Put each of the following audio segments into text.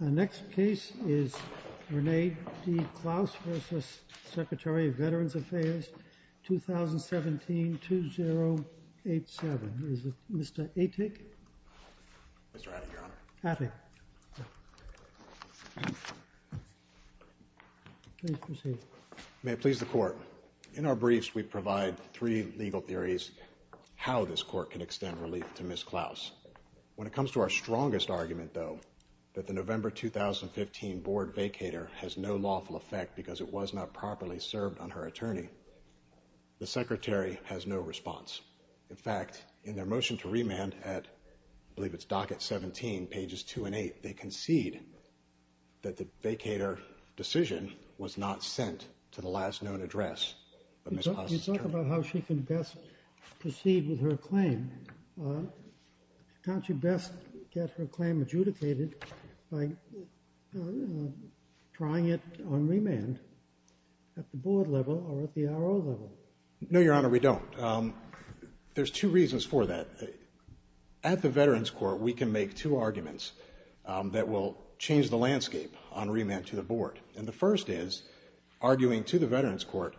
The next case is Renee D. Clouse v. Secretary of Veterans Affairs, 2017-2087. In our briefs, we provide three legal theories how this court can extend relief to Ms. Clouse. When it comes to our strongest argument, though, that the November 2015 board vacator has no lawful effect because it was not properly served on her attorney, the Secretary has no response. In fact, in their motion to remand at, I believe it's docket 17, pages 2 and 8, they concede that the vacator decision was not sent to the last known address of Ms. Clouse's attorney. You talk about how she can best proceed with her claim, can't you best get her claim adjudicated by trying it on remand at the board level or at the R.O. level? No, Your Honor, we don't. There's two reasons for that. At the Veterans Court, we can make two arguments that will change the landscape on remand to the board. And the first is, arguing to the Veterans Court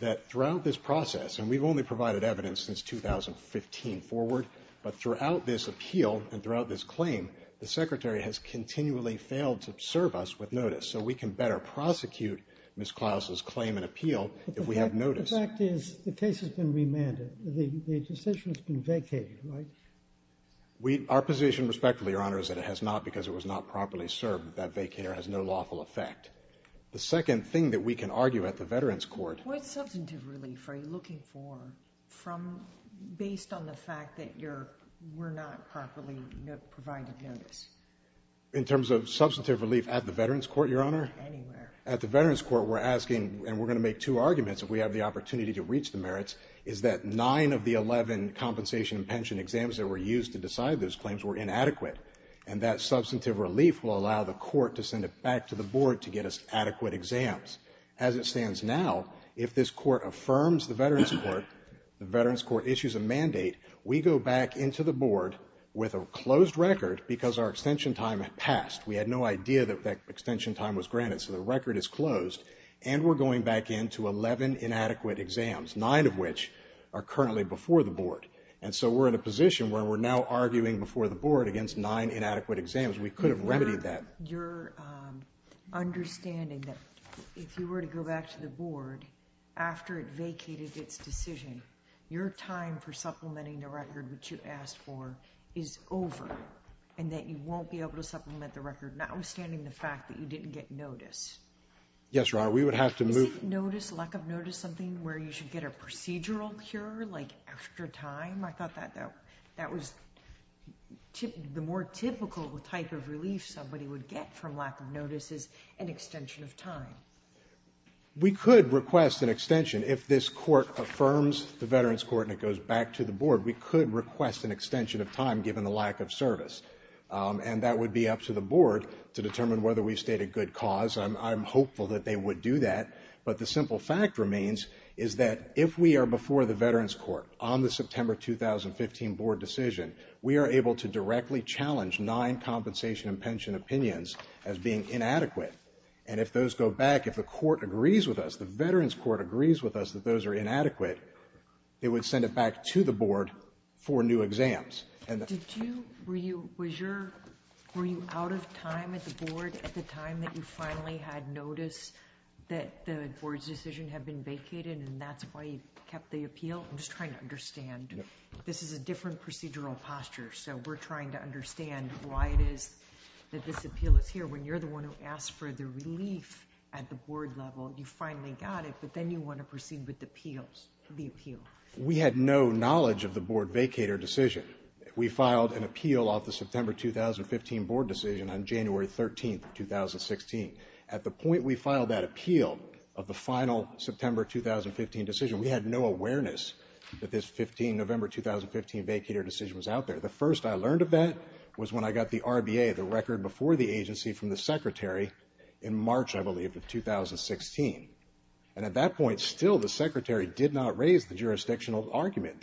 that throughout this process, and we've only provided evidence since 2015 forward, but throughout this appeal and throughout this claim, the Secretary has continually failed to serve us with notice. So we can better prosecute Ms. Clouse's claim and appeal if we have notice. But the fact is, the case has been remanded. The decision has been vacated, right? We – our position, respectfully, Your Honor, is that it has not because it was not properly served. That vacator has no lawful effect. The second thing that we can argue at the Veterans Court – What substantive relief are you looking for from – based on the fact that you're – we're not properly providing notice? In terms of substantive relief at the Veterans Court, Your Honor? Anywhere. At the Veterans Court, we're asking – and we're going to make two arguments if we have the opportunity to reach the merits – is that nine of the 11 compensation and pension exams that were used to decide those claims were inadequate. And that substantive relief will allow the court to send it back to the board to get us adequate exams. As it stands now, if this court affirms the Veterans Court, the Veterans Court issues a mandate, we go back into the board with a closed record because our extension time had passed. We had no idea that that extension time was granted, so the record is closed. And we're going back into 11 inadequate exams, nine of which are currently before the board. And so we're in a position where we're now arguing before the board against nine inadequate exams. We could have remedied that. Your understanding that if you were to go back to the board after it vacated its decision, your time for supplementing the record which you asked for is over and that you won't be able to supplement the record, notwithstanding the fact that you didn't get notice? Yes, Your Honor. We would have to move. Isn't notice, lack of notice, something where you should get a procedural cure, like extra time? I thought that was the more typical type of relief somebody would get from lack of notice is an extension of time. We could request an extension. If this court affirms the Veterans Court and it goes back to the board, we could request an extension of time given the lack of service. And that would be up to the board to determine whether we've stayed a good cause, and I'm hopeful that they would do that. But the simple fact remains is that if we are before the Veterans Court on the September 2015 board decision, we are able to directly challenge nine compensation and pension opinions as being inadequate. And if those go back, if the court agrees with us, the Veterans Court agrees with us that those are inadequate, they would send it back to the board for new exams. And the other thing I would say is that I think it's important for the board to understand that the board's decision has been vacated, and that's why you kept the appeal. I'm just trying to understand. This is a different procedural posture, so we're trying to understand why it is that this appeal is here. When you're the one who asked for the relief at the board level, you finally got it, but then you want to proceed with the appeals, the appeal. We had no knowledge of the board vacator decision. We filed an appeal off the September 2015 board decision on January 13, 2016. At the point we filed that appeal of the final September 2015 decision, we had no awareness that this November 2015 vacator decision was out there. The first I learned of that was when I got the RBA, the record before the agency, from the secretary in March, I believe, of 2016. And at that point, still, the secretary did not raise the jurisdictional argument.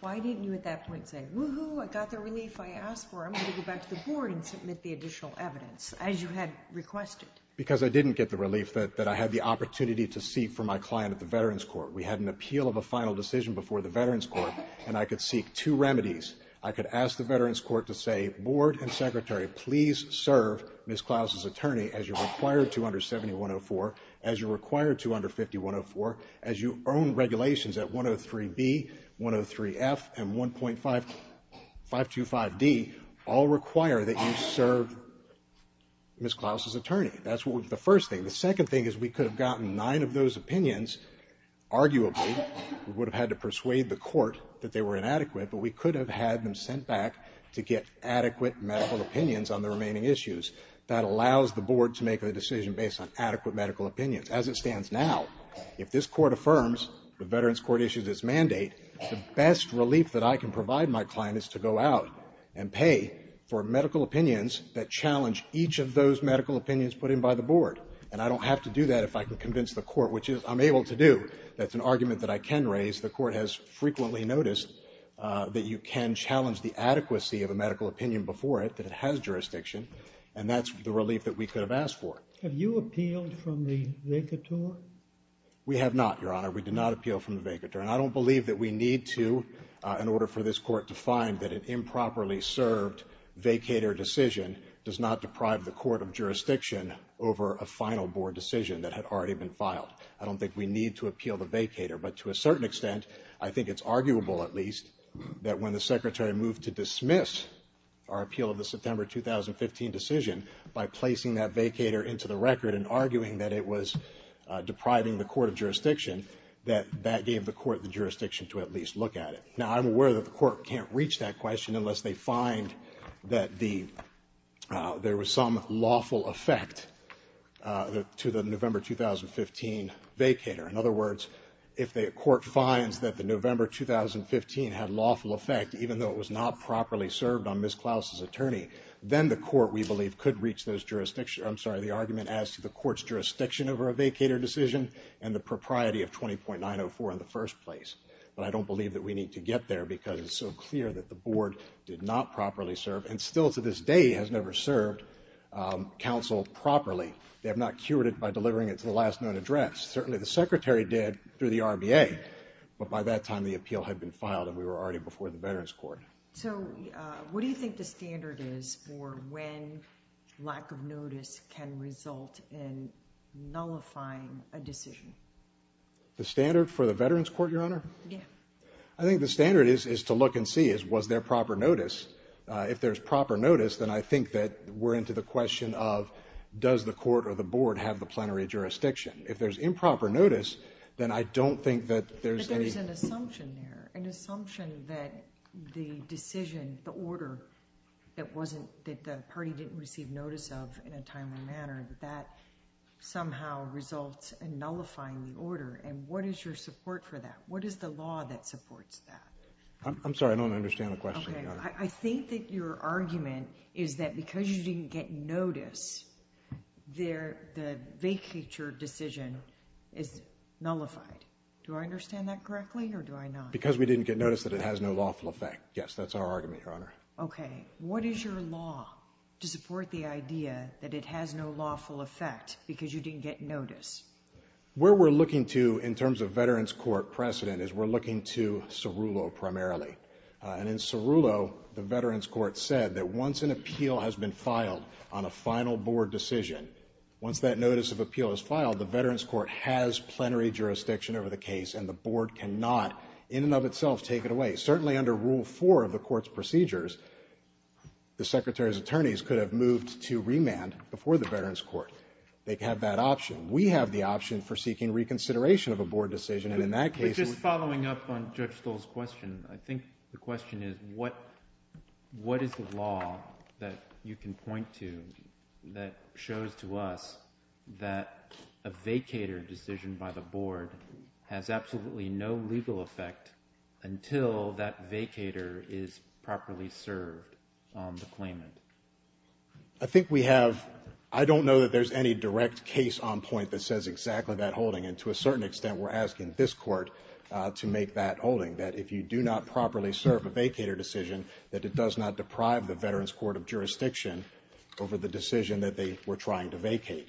Why didn't you at that point say, woo-hoo, I got the relief I asked for. I'm going to go back to the board and submit the additional evidence, as you had requested? Because I didn't get the relief that I had the opportunity to seek from my client at the Veterans Court. We had an appeal of a final decision before the Veterans Court, and I could seek two remedies. I could ask the Veterans Court to say, board and secretary, please serve Ms. Klaus's attorney. That's the first thing. The second thing is we could have gotten nine of those opinions, arguably. We would have had to persuade the court that they were inadequate, but we could have had them sent back to get adequate medical opinions on the remaining issues. Klaus's attorney was not a medical doctor. As it stands now, if this court affirms the Veterans Court issues its mandate, the best relief that I can provide my client is to go out and pay for medical opinions that challenge each of those medical opinions put in by the board. And I don't have to do that if I can convince the court, which I'm able to do. That's an argument that I can raise. The court has frequently noticed that you can challenge the adequacy of a medical opinion before it, that it has jurisdiction, and that's the relief that we could have asked for. Have you appealed from the vacator? We have not, Your Honor. We did not appeal from the vacator, and I don't believe that we need to in order for this court to find that an improperly served vacator decision does not deprive the court of jurisdiction over a final board decision that had already been filed. I don't think we need to appeal the vacator, but to a certain extent, I think it's arguable, at least, that when the secretary moved to dismiss our appeal of the September 2015 decision by placing that vacator into the record and arguing that it was depriving the court of jurisdiction, that that gave the court the jurisdiction to at least look at it. Now, I'm aware that the court can't reach that question unless they find that there was some lawful effect to the November 2015 vacator. In other words, if the court finds that the November 2015 had lawful effect, even though it was not properly served on Ms. Klaus's attorney, then the court, we believe, could reach the argument as to the court's jurisdiction over a vacator decision and the propriety of 20.904 in the first place. But I don't believe that we need to get there because it's so clear that the board did not properly serve and still to this day has never served counsel properly. They have not cured it by delivering it to the last known address. Certainly the secretary did through the RBA, but by that time the appeal had been filed and we were already before the Veterans Court. So what do you think the standard is for when lack of notice can result in nullifying a decision? The standard for the Veterans Court, Your Honor? Yeah. I think the standard is to look and see is was there proper notice. If there's proper notice, then I think that we're into the question of does the court or the board have the plenary jurisdiction. If there's improper notice, then I don't think that there's any – Is there an assumption that the decision, the order, that wasn't – that the party didn't receive notice of in a timely manner, that that somehow results in nullifying the order? And what is your support for that? What is the law that supports that? I don't understand the question, Your Honor. Okay. I think that your argument is that because you didn't get notice, the vacator decision is nullified. Do I understand that correctly or do I not? Because we didn't get notice that it has no lawful effect. Yes, that's our argument, Your Honor. Okay. What is your law to support the idea that it has no lawful effect because you didn't get notice? Where we're looking to in terms of Veterans Court precedent is we're looking to Cerullo primarily. And in Cerullo, the Veterans Court said that once an appeal has been filed on a final board decision, once that notice of appeal is filed, the Veterans Court has plenary jurisdiction over the case, and the board cannot in and of itself take it away. Certainly under Rule 4 of the Court's procedures, the Secretary's attorneys could have moved to remand before the Veterans Court. They have that option. We have the option for seeking reconsideration of a board decision, and in that case we're going to do that. But just following up on Judge Stolz's question, I think the question is what is the type of law that you can point to that shows to us that a vacator decision by the board has absolutely no legal effect until that vacator is properly served on the claimant? I think we have – I don't know that there's any direct case on point that says exactly that holding, and to a certain extent we're asking this Court to make that holding, that if you do not properly serve a vacator decision, that it does not deprive the Veterans Court of jurisdiction over the decision that they were trying to vacate.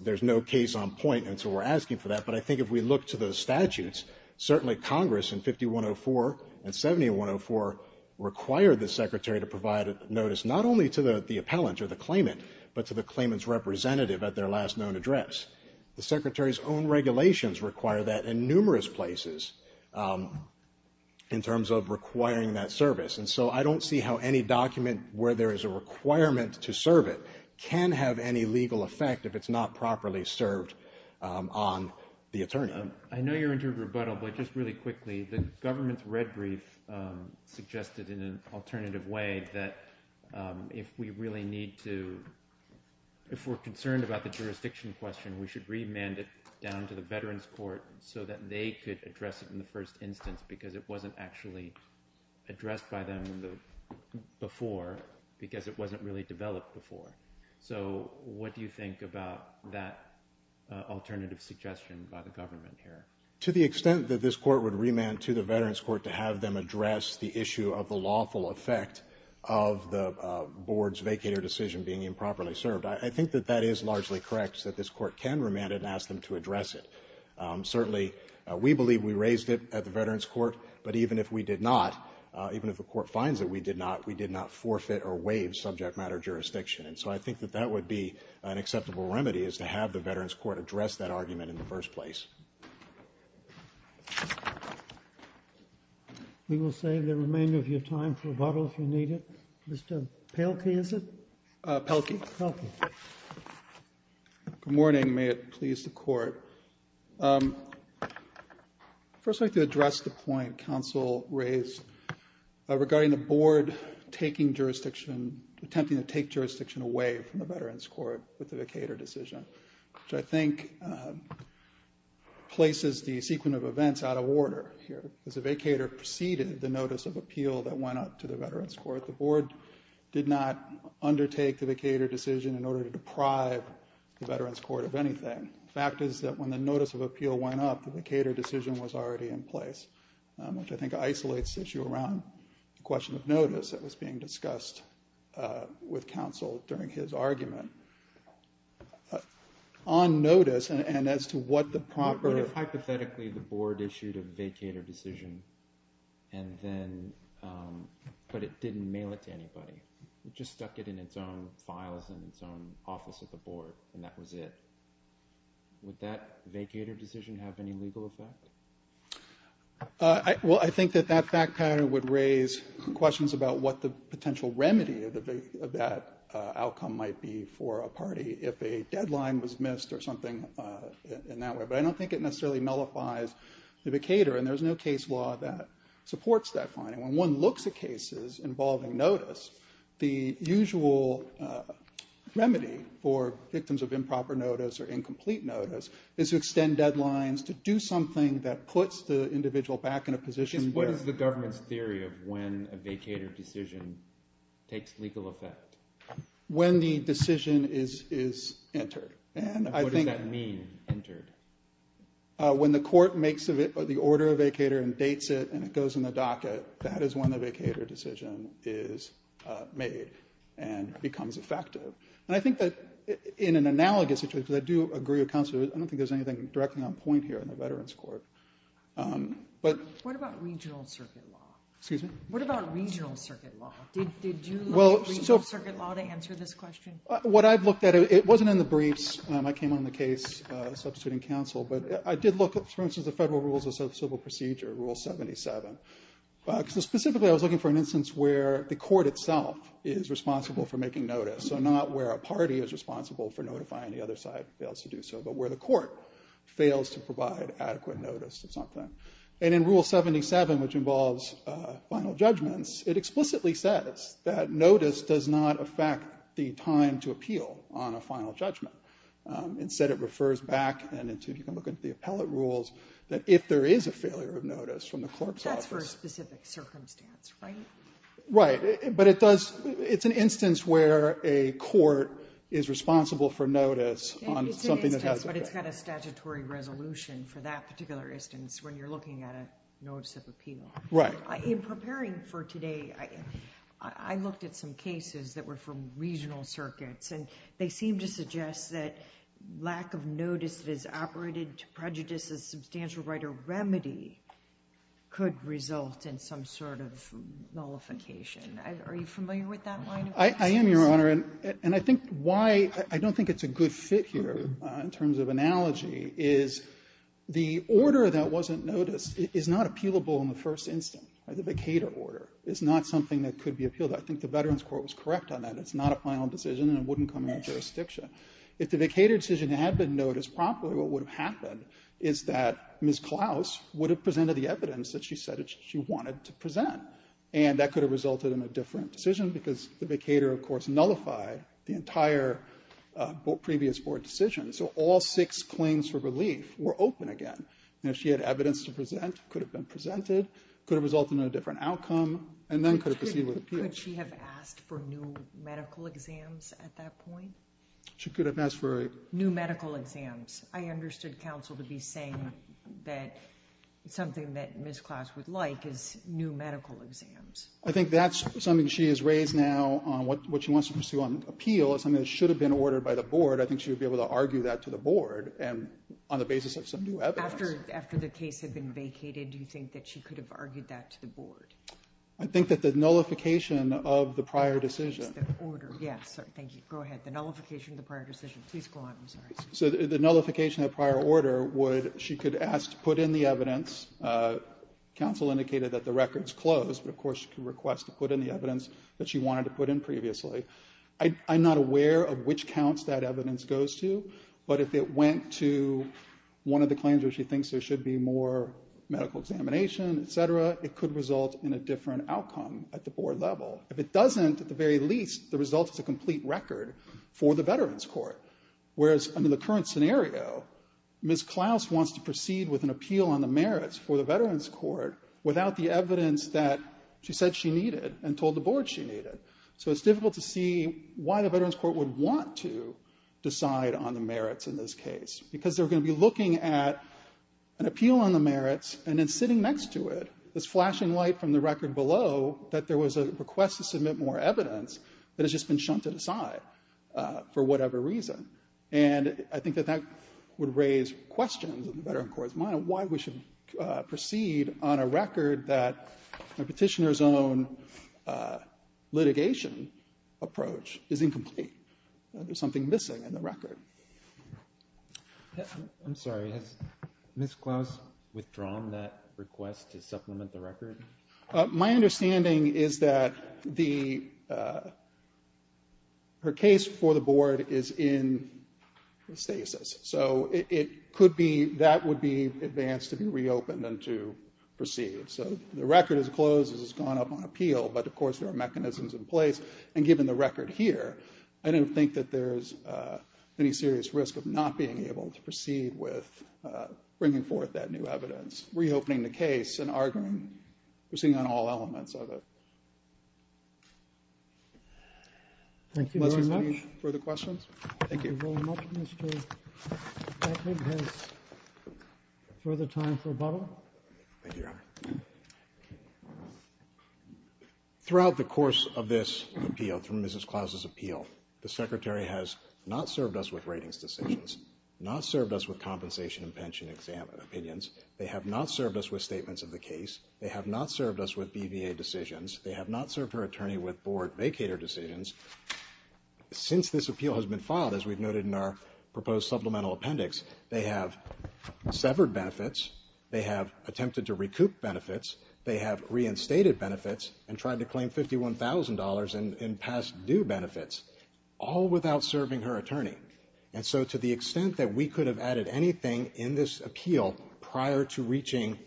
There's no case on point, and so we're asking for that. But I think if we look to those statutes, certainly Congress in 5104 and 7104 required the Secretary to provide a notice not only to the appellant or the claimant, but to the claimant's representative at their last known address. The Secretary's own regulations require that in numerous places in terms of requiring that service. And so I don't see how any document where there is a requirement to serve it can have any legal effect if it's not properly served on the attorney. I know you're into rebuttal, but just really quickly, the government's red brief suggested in an alternative way that if we really need to – if we're concerned about the jurisdiction question, we should remand it down to the Veterans Court so that they could address it in the first instance because it wasn't actually addressed by them before because it wasn't really developed before. So what do you think about that alternative suggestion by the government here? To the extent that this court would remand to the Veterans Court to have them address the issue of the lawful effect of the board's vacated decision being improperly served, I think that that is largely correct, that this court can remand it and ask them to address it. Certainly, we believe we raised it at the Veterans Court, but even if we did not, even if the court finds that we did not, we did not forfeit or waive subject matter jurisdiction. And so I think that that would be an acceptable remedy is to have the Veterans Court address that argument in the first place. We will save the remainder of your time for rebuttal if you need it. Mr. Pelkey, is it? Pelkey. Pelkey. Good morning. May it please the court. First, I'd like to address the point counsel raised regarding the board taking jurisdiction, attempting to take jurisdiction away from the Veterans Court with the vacator decision, which I think places the sequence of events out of order here. As the vacator preceded the notice of appeal that went up to the Veterans Court, the board did not undertake the vacator decision in order to deprive the Veterans Court of anything. The fact is that when the notice of appeal went up, the vacator decision was already in place, which I think isolates the issue around the question of notice that was being discussed with counsel during his argument. On notice and as to what the proper... But it didn't mail it to anybody. It just stuck it in its own files and its own office at the board, and that was it. Would that vacator decision have any legal effect? Well, I think that that fact pattern would raise questions about what the potential remedy of that outcome might be for a party if a deadline was missed or something in that way. But I don't think it necessarily nullifies the vacator, and there's no case law that supports that finding. When one looks at cases involving notice, the usual remedy for victims of improper notice or incomplete notice is to extend deadlines to do something that puts the individual back in a position where... What is the government's theory of when a vacator decision takes legal effect? When the decision is entered, and I think... What does that mean, entered? When the court makes the order of vacator and dates it and it goes in the docket, that is when the vacator decision is made and becomes effective. And I think that in an analogous situation, because I do agree with counsel, I don't think there's anything directly on point here in the Veterans Court. But... What about regional circuit law? Excuse me? What about regional circuit law? Did you look at regional circuit law to answer this question? What I've looked at, it wasn't in the briefs. I came on the case substituting counsel. But I did look at, for instance, the Federal Rules of Civil Procedure, Rule 77. Specifically, I was looking for an instance where the court itself is responsible for making notice, so not where a party is responsible for notifying the other side fails to do so, but where the court fails to provide adequate notice of something. And in Rule 77, which involves final judgments, it explicitly says that does not affect the time to appeal on a final judgment. Instead, it refers back, and if you can look at the appellate rules, that if there is a failure of notice from the court's office... That's for a specific circumstance, right? Right. But it does... It's an instance where a court is responsible for notice on something that hasn't been... It's an instance, but it's got a statutory resolution for that particular instance when you're looking at a notice of appeal. Right. In preparing for today, I looked at some cases that were from regional circuits, and they seemed to suggest that lack of notice that is operated to prejudice a substantial right or remedy could result in some sort of nullification. Are you familiar with that line of practice? I am, Your Honor. And I think why... I don't think it's a good fit here in terms of analogy is the order that wasn't noticed is not appealable in the first instance. The vacator order is not something that could be appealed. I think the Veterans Court was correct on that. It's not a final decision, and it wouldn't come into jurisdiction. If the vacator decision had been noticed properly, what would have happened is that Ms. Klaus would have presented the evidence that she said she wanted to present, and that could have resulted in a different decision because the vacator, of course, nullified the entire previous board decision. So all six claims for relief were open again. And if she had evidence to present, it could have been presented, could have resulted in a different outcome, and then could have proceeded with appeal. Could she have asked for new medical exams at that point? She could have asked for... New medical exams. I understood counsel to be saying that something that Ms. Klaus would like is new medical exams. I think that's something she has raised now on what she wants to pursue on appeal as something that should have been ordered by the board. I think she would be able to argue that to the board on the basis of some new evidence. After the case had been vacated, do you think that she could have argued that to the board? I think that the nullification of the prior decision... It's the order. Yes. Thank you. Go ahead. The nullification of the prior decision. Please go on. I'm sorry. So the nullification of the prior order would... She could ask to put in the evidence. Counsel indicated that the records closed, but, of course, she could request to put in the evidence that she wanted to put in previously. I'm not aware of which counts that evidence goes to, but if it went to one of the claims where she thinks there should be more medical examination, et cetera, it could result in a different outcome at the board level. If it doesn't, at the very least, the result is a complete record for the Veterans Court, whereas under the current scenario, Ms. Klaus wants to proceed with an appeal on the merits for the Veterans Court without the evidence that she said she needed and told the board she needed. So it's difficult to see why the Veterans Court would want to decide on the merits in this case because they're going to be looking at an appeal on the merits and then sitting next to it is flashing light from the record below that there was a request to submit more evidence that has just been shunted aside for whatever reason. And I think that that would raise questions in the Veterans Court's mind why we should proceed on a record that a petitioner's own litigation approach is incomplete. There's something missing in the record. I'm sorry. Has Ms. Klaus withdrawn that request to supplement the record? My understanding is that her case for the board is in stasis. So that would be advanced to be reopened and to proceed. So the record is closed as it's gone up on appeal, but, of course, there are mechanisms in place. And given the record here, I don't think that there's any serious risk of not being able to proceed with bringing forth that new evidence, reopening the case and arguing proceeding on all elements of it. Thank you very much. Unless there's any further questions? Thank you. Thank you very much, Mr. Beckman. Further time for rebuttal? Thank you, Your Honor. Throughout the course of this appeal, through Ms. Klaus's appeal, the Secretary has not served us with ratings decisions, not served us with compensation and pension opinions. They have not served us with statements of the case. They have not served us with BVA decisions. They have not served her attorney with board vacator decisions. Since this appeal has been filed, as we've noted in our proposed supplemental appendix, they have severed benefits, they have attempted to recoup benefits, they have reinstated benefits, and tried to claim $51,000 in past due benefits, all without serving her attorney. And so to the extent that we could have added anything in this appeal prior to reaching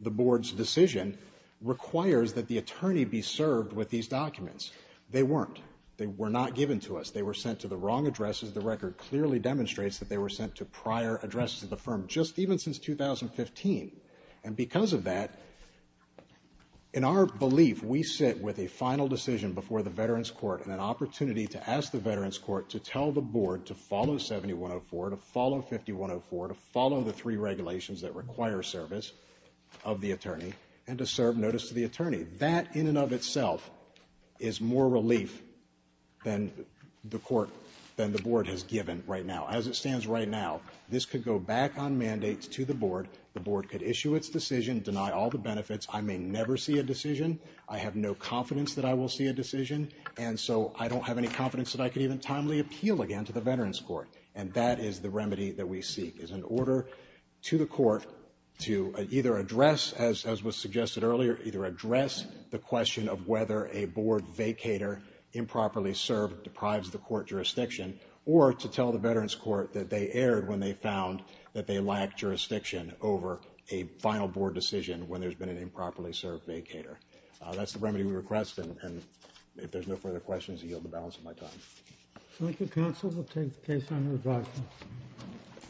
the board's decision requires that the attorney be served with these documents. They weren't. They were not given to us. They were sent to the wrong addresses. The record clearly demonstrates that they were sent to prior addresses of the firm, just even since 2015. And because of that, in our belief, we sit with a final decision before the Veterans Court and an opportunity to ask the Veterans Court to tell the board to follow 7104, to follow 5104, to follow the three regulations that require service of the attorney, and to serve notice to the attorney. That in and of itself is more relief than the court, than the board has given right now. As it stands right now, this could go back on mandates to the board. The board could issue its decision, deny all the benefits. I may never see a decision. I have no confidence that I will see a decision, and so I don't have any confidence that I could even timely appeal again to the Veterans Court. And that is the remedy that we seek, is an order to the court to either address, as was suggested earlier, either address the question of whether a board vacator improperly served deprives the court jurisdiction, or to tell the Veterans Court that they erred when they found that they lacked jurisdiction over a final board decision when there's been an improperly served vacator. That's the remedy we request, and if there's no further questions, I yield the balance of my time. Thank you, counsel. We'll take the case under review.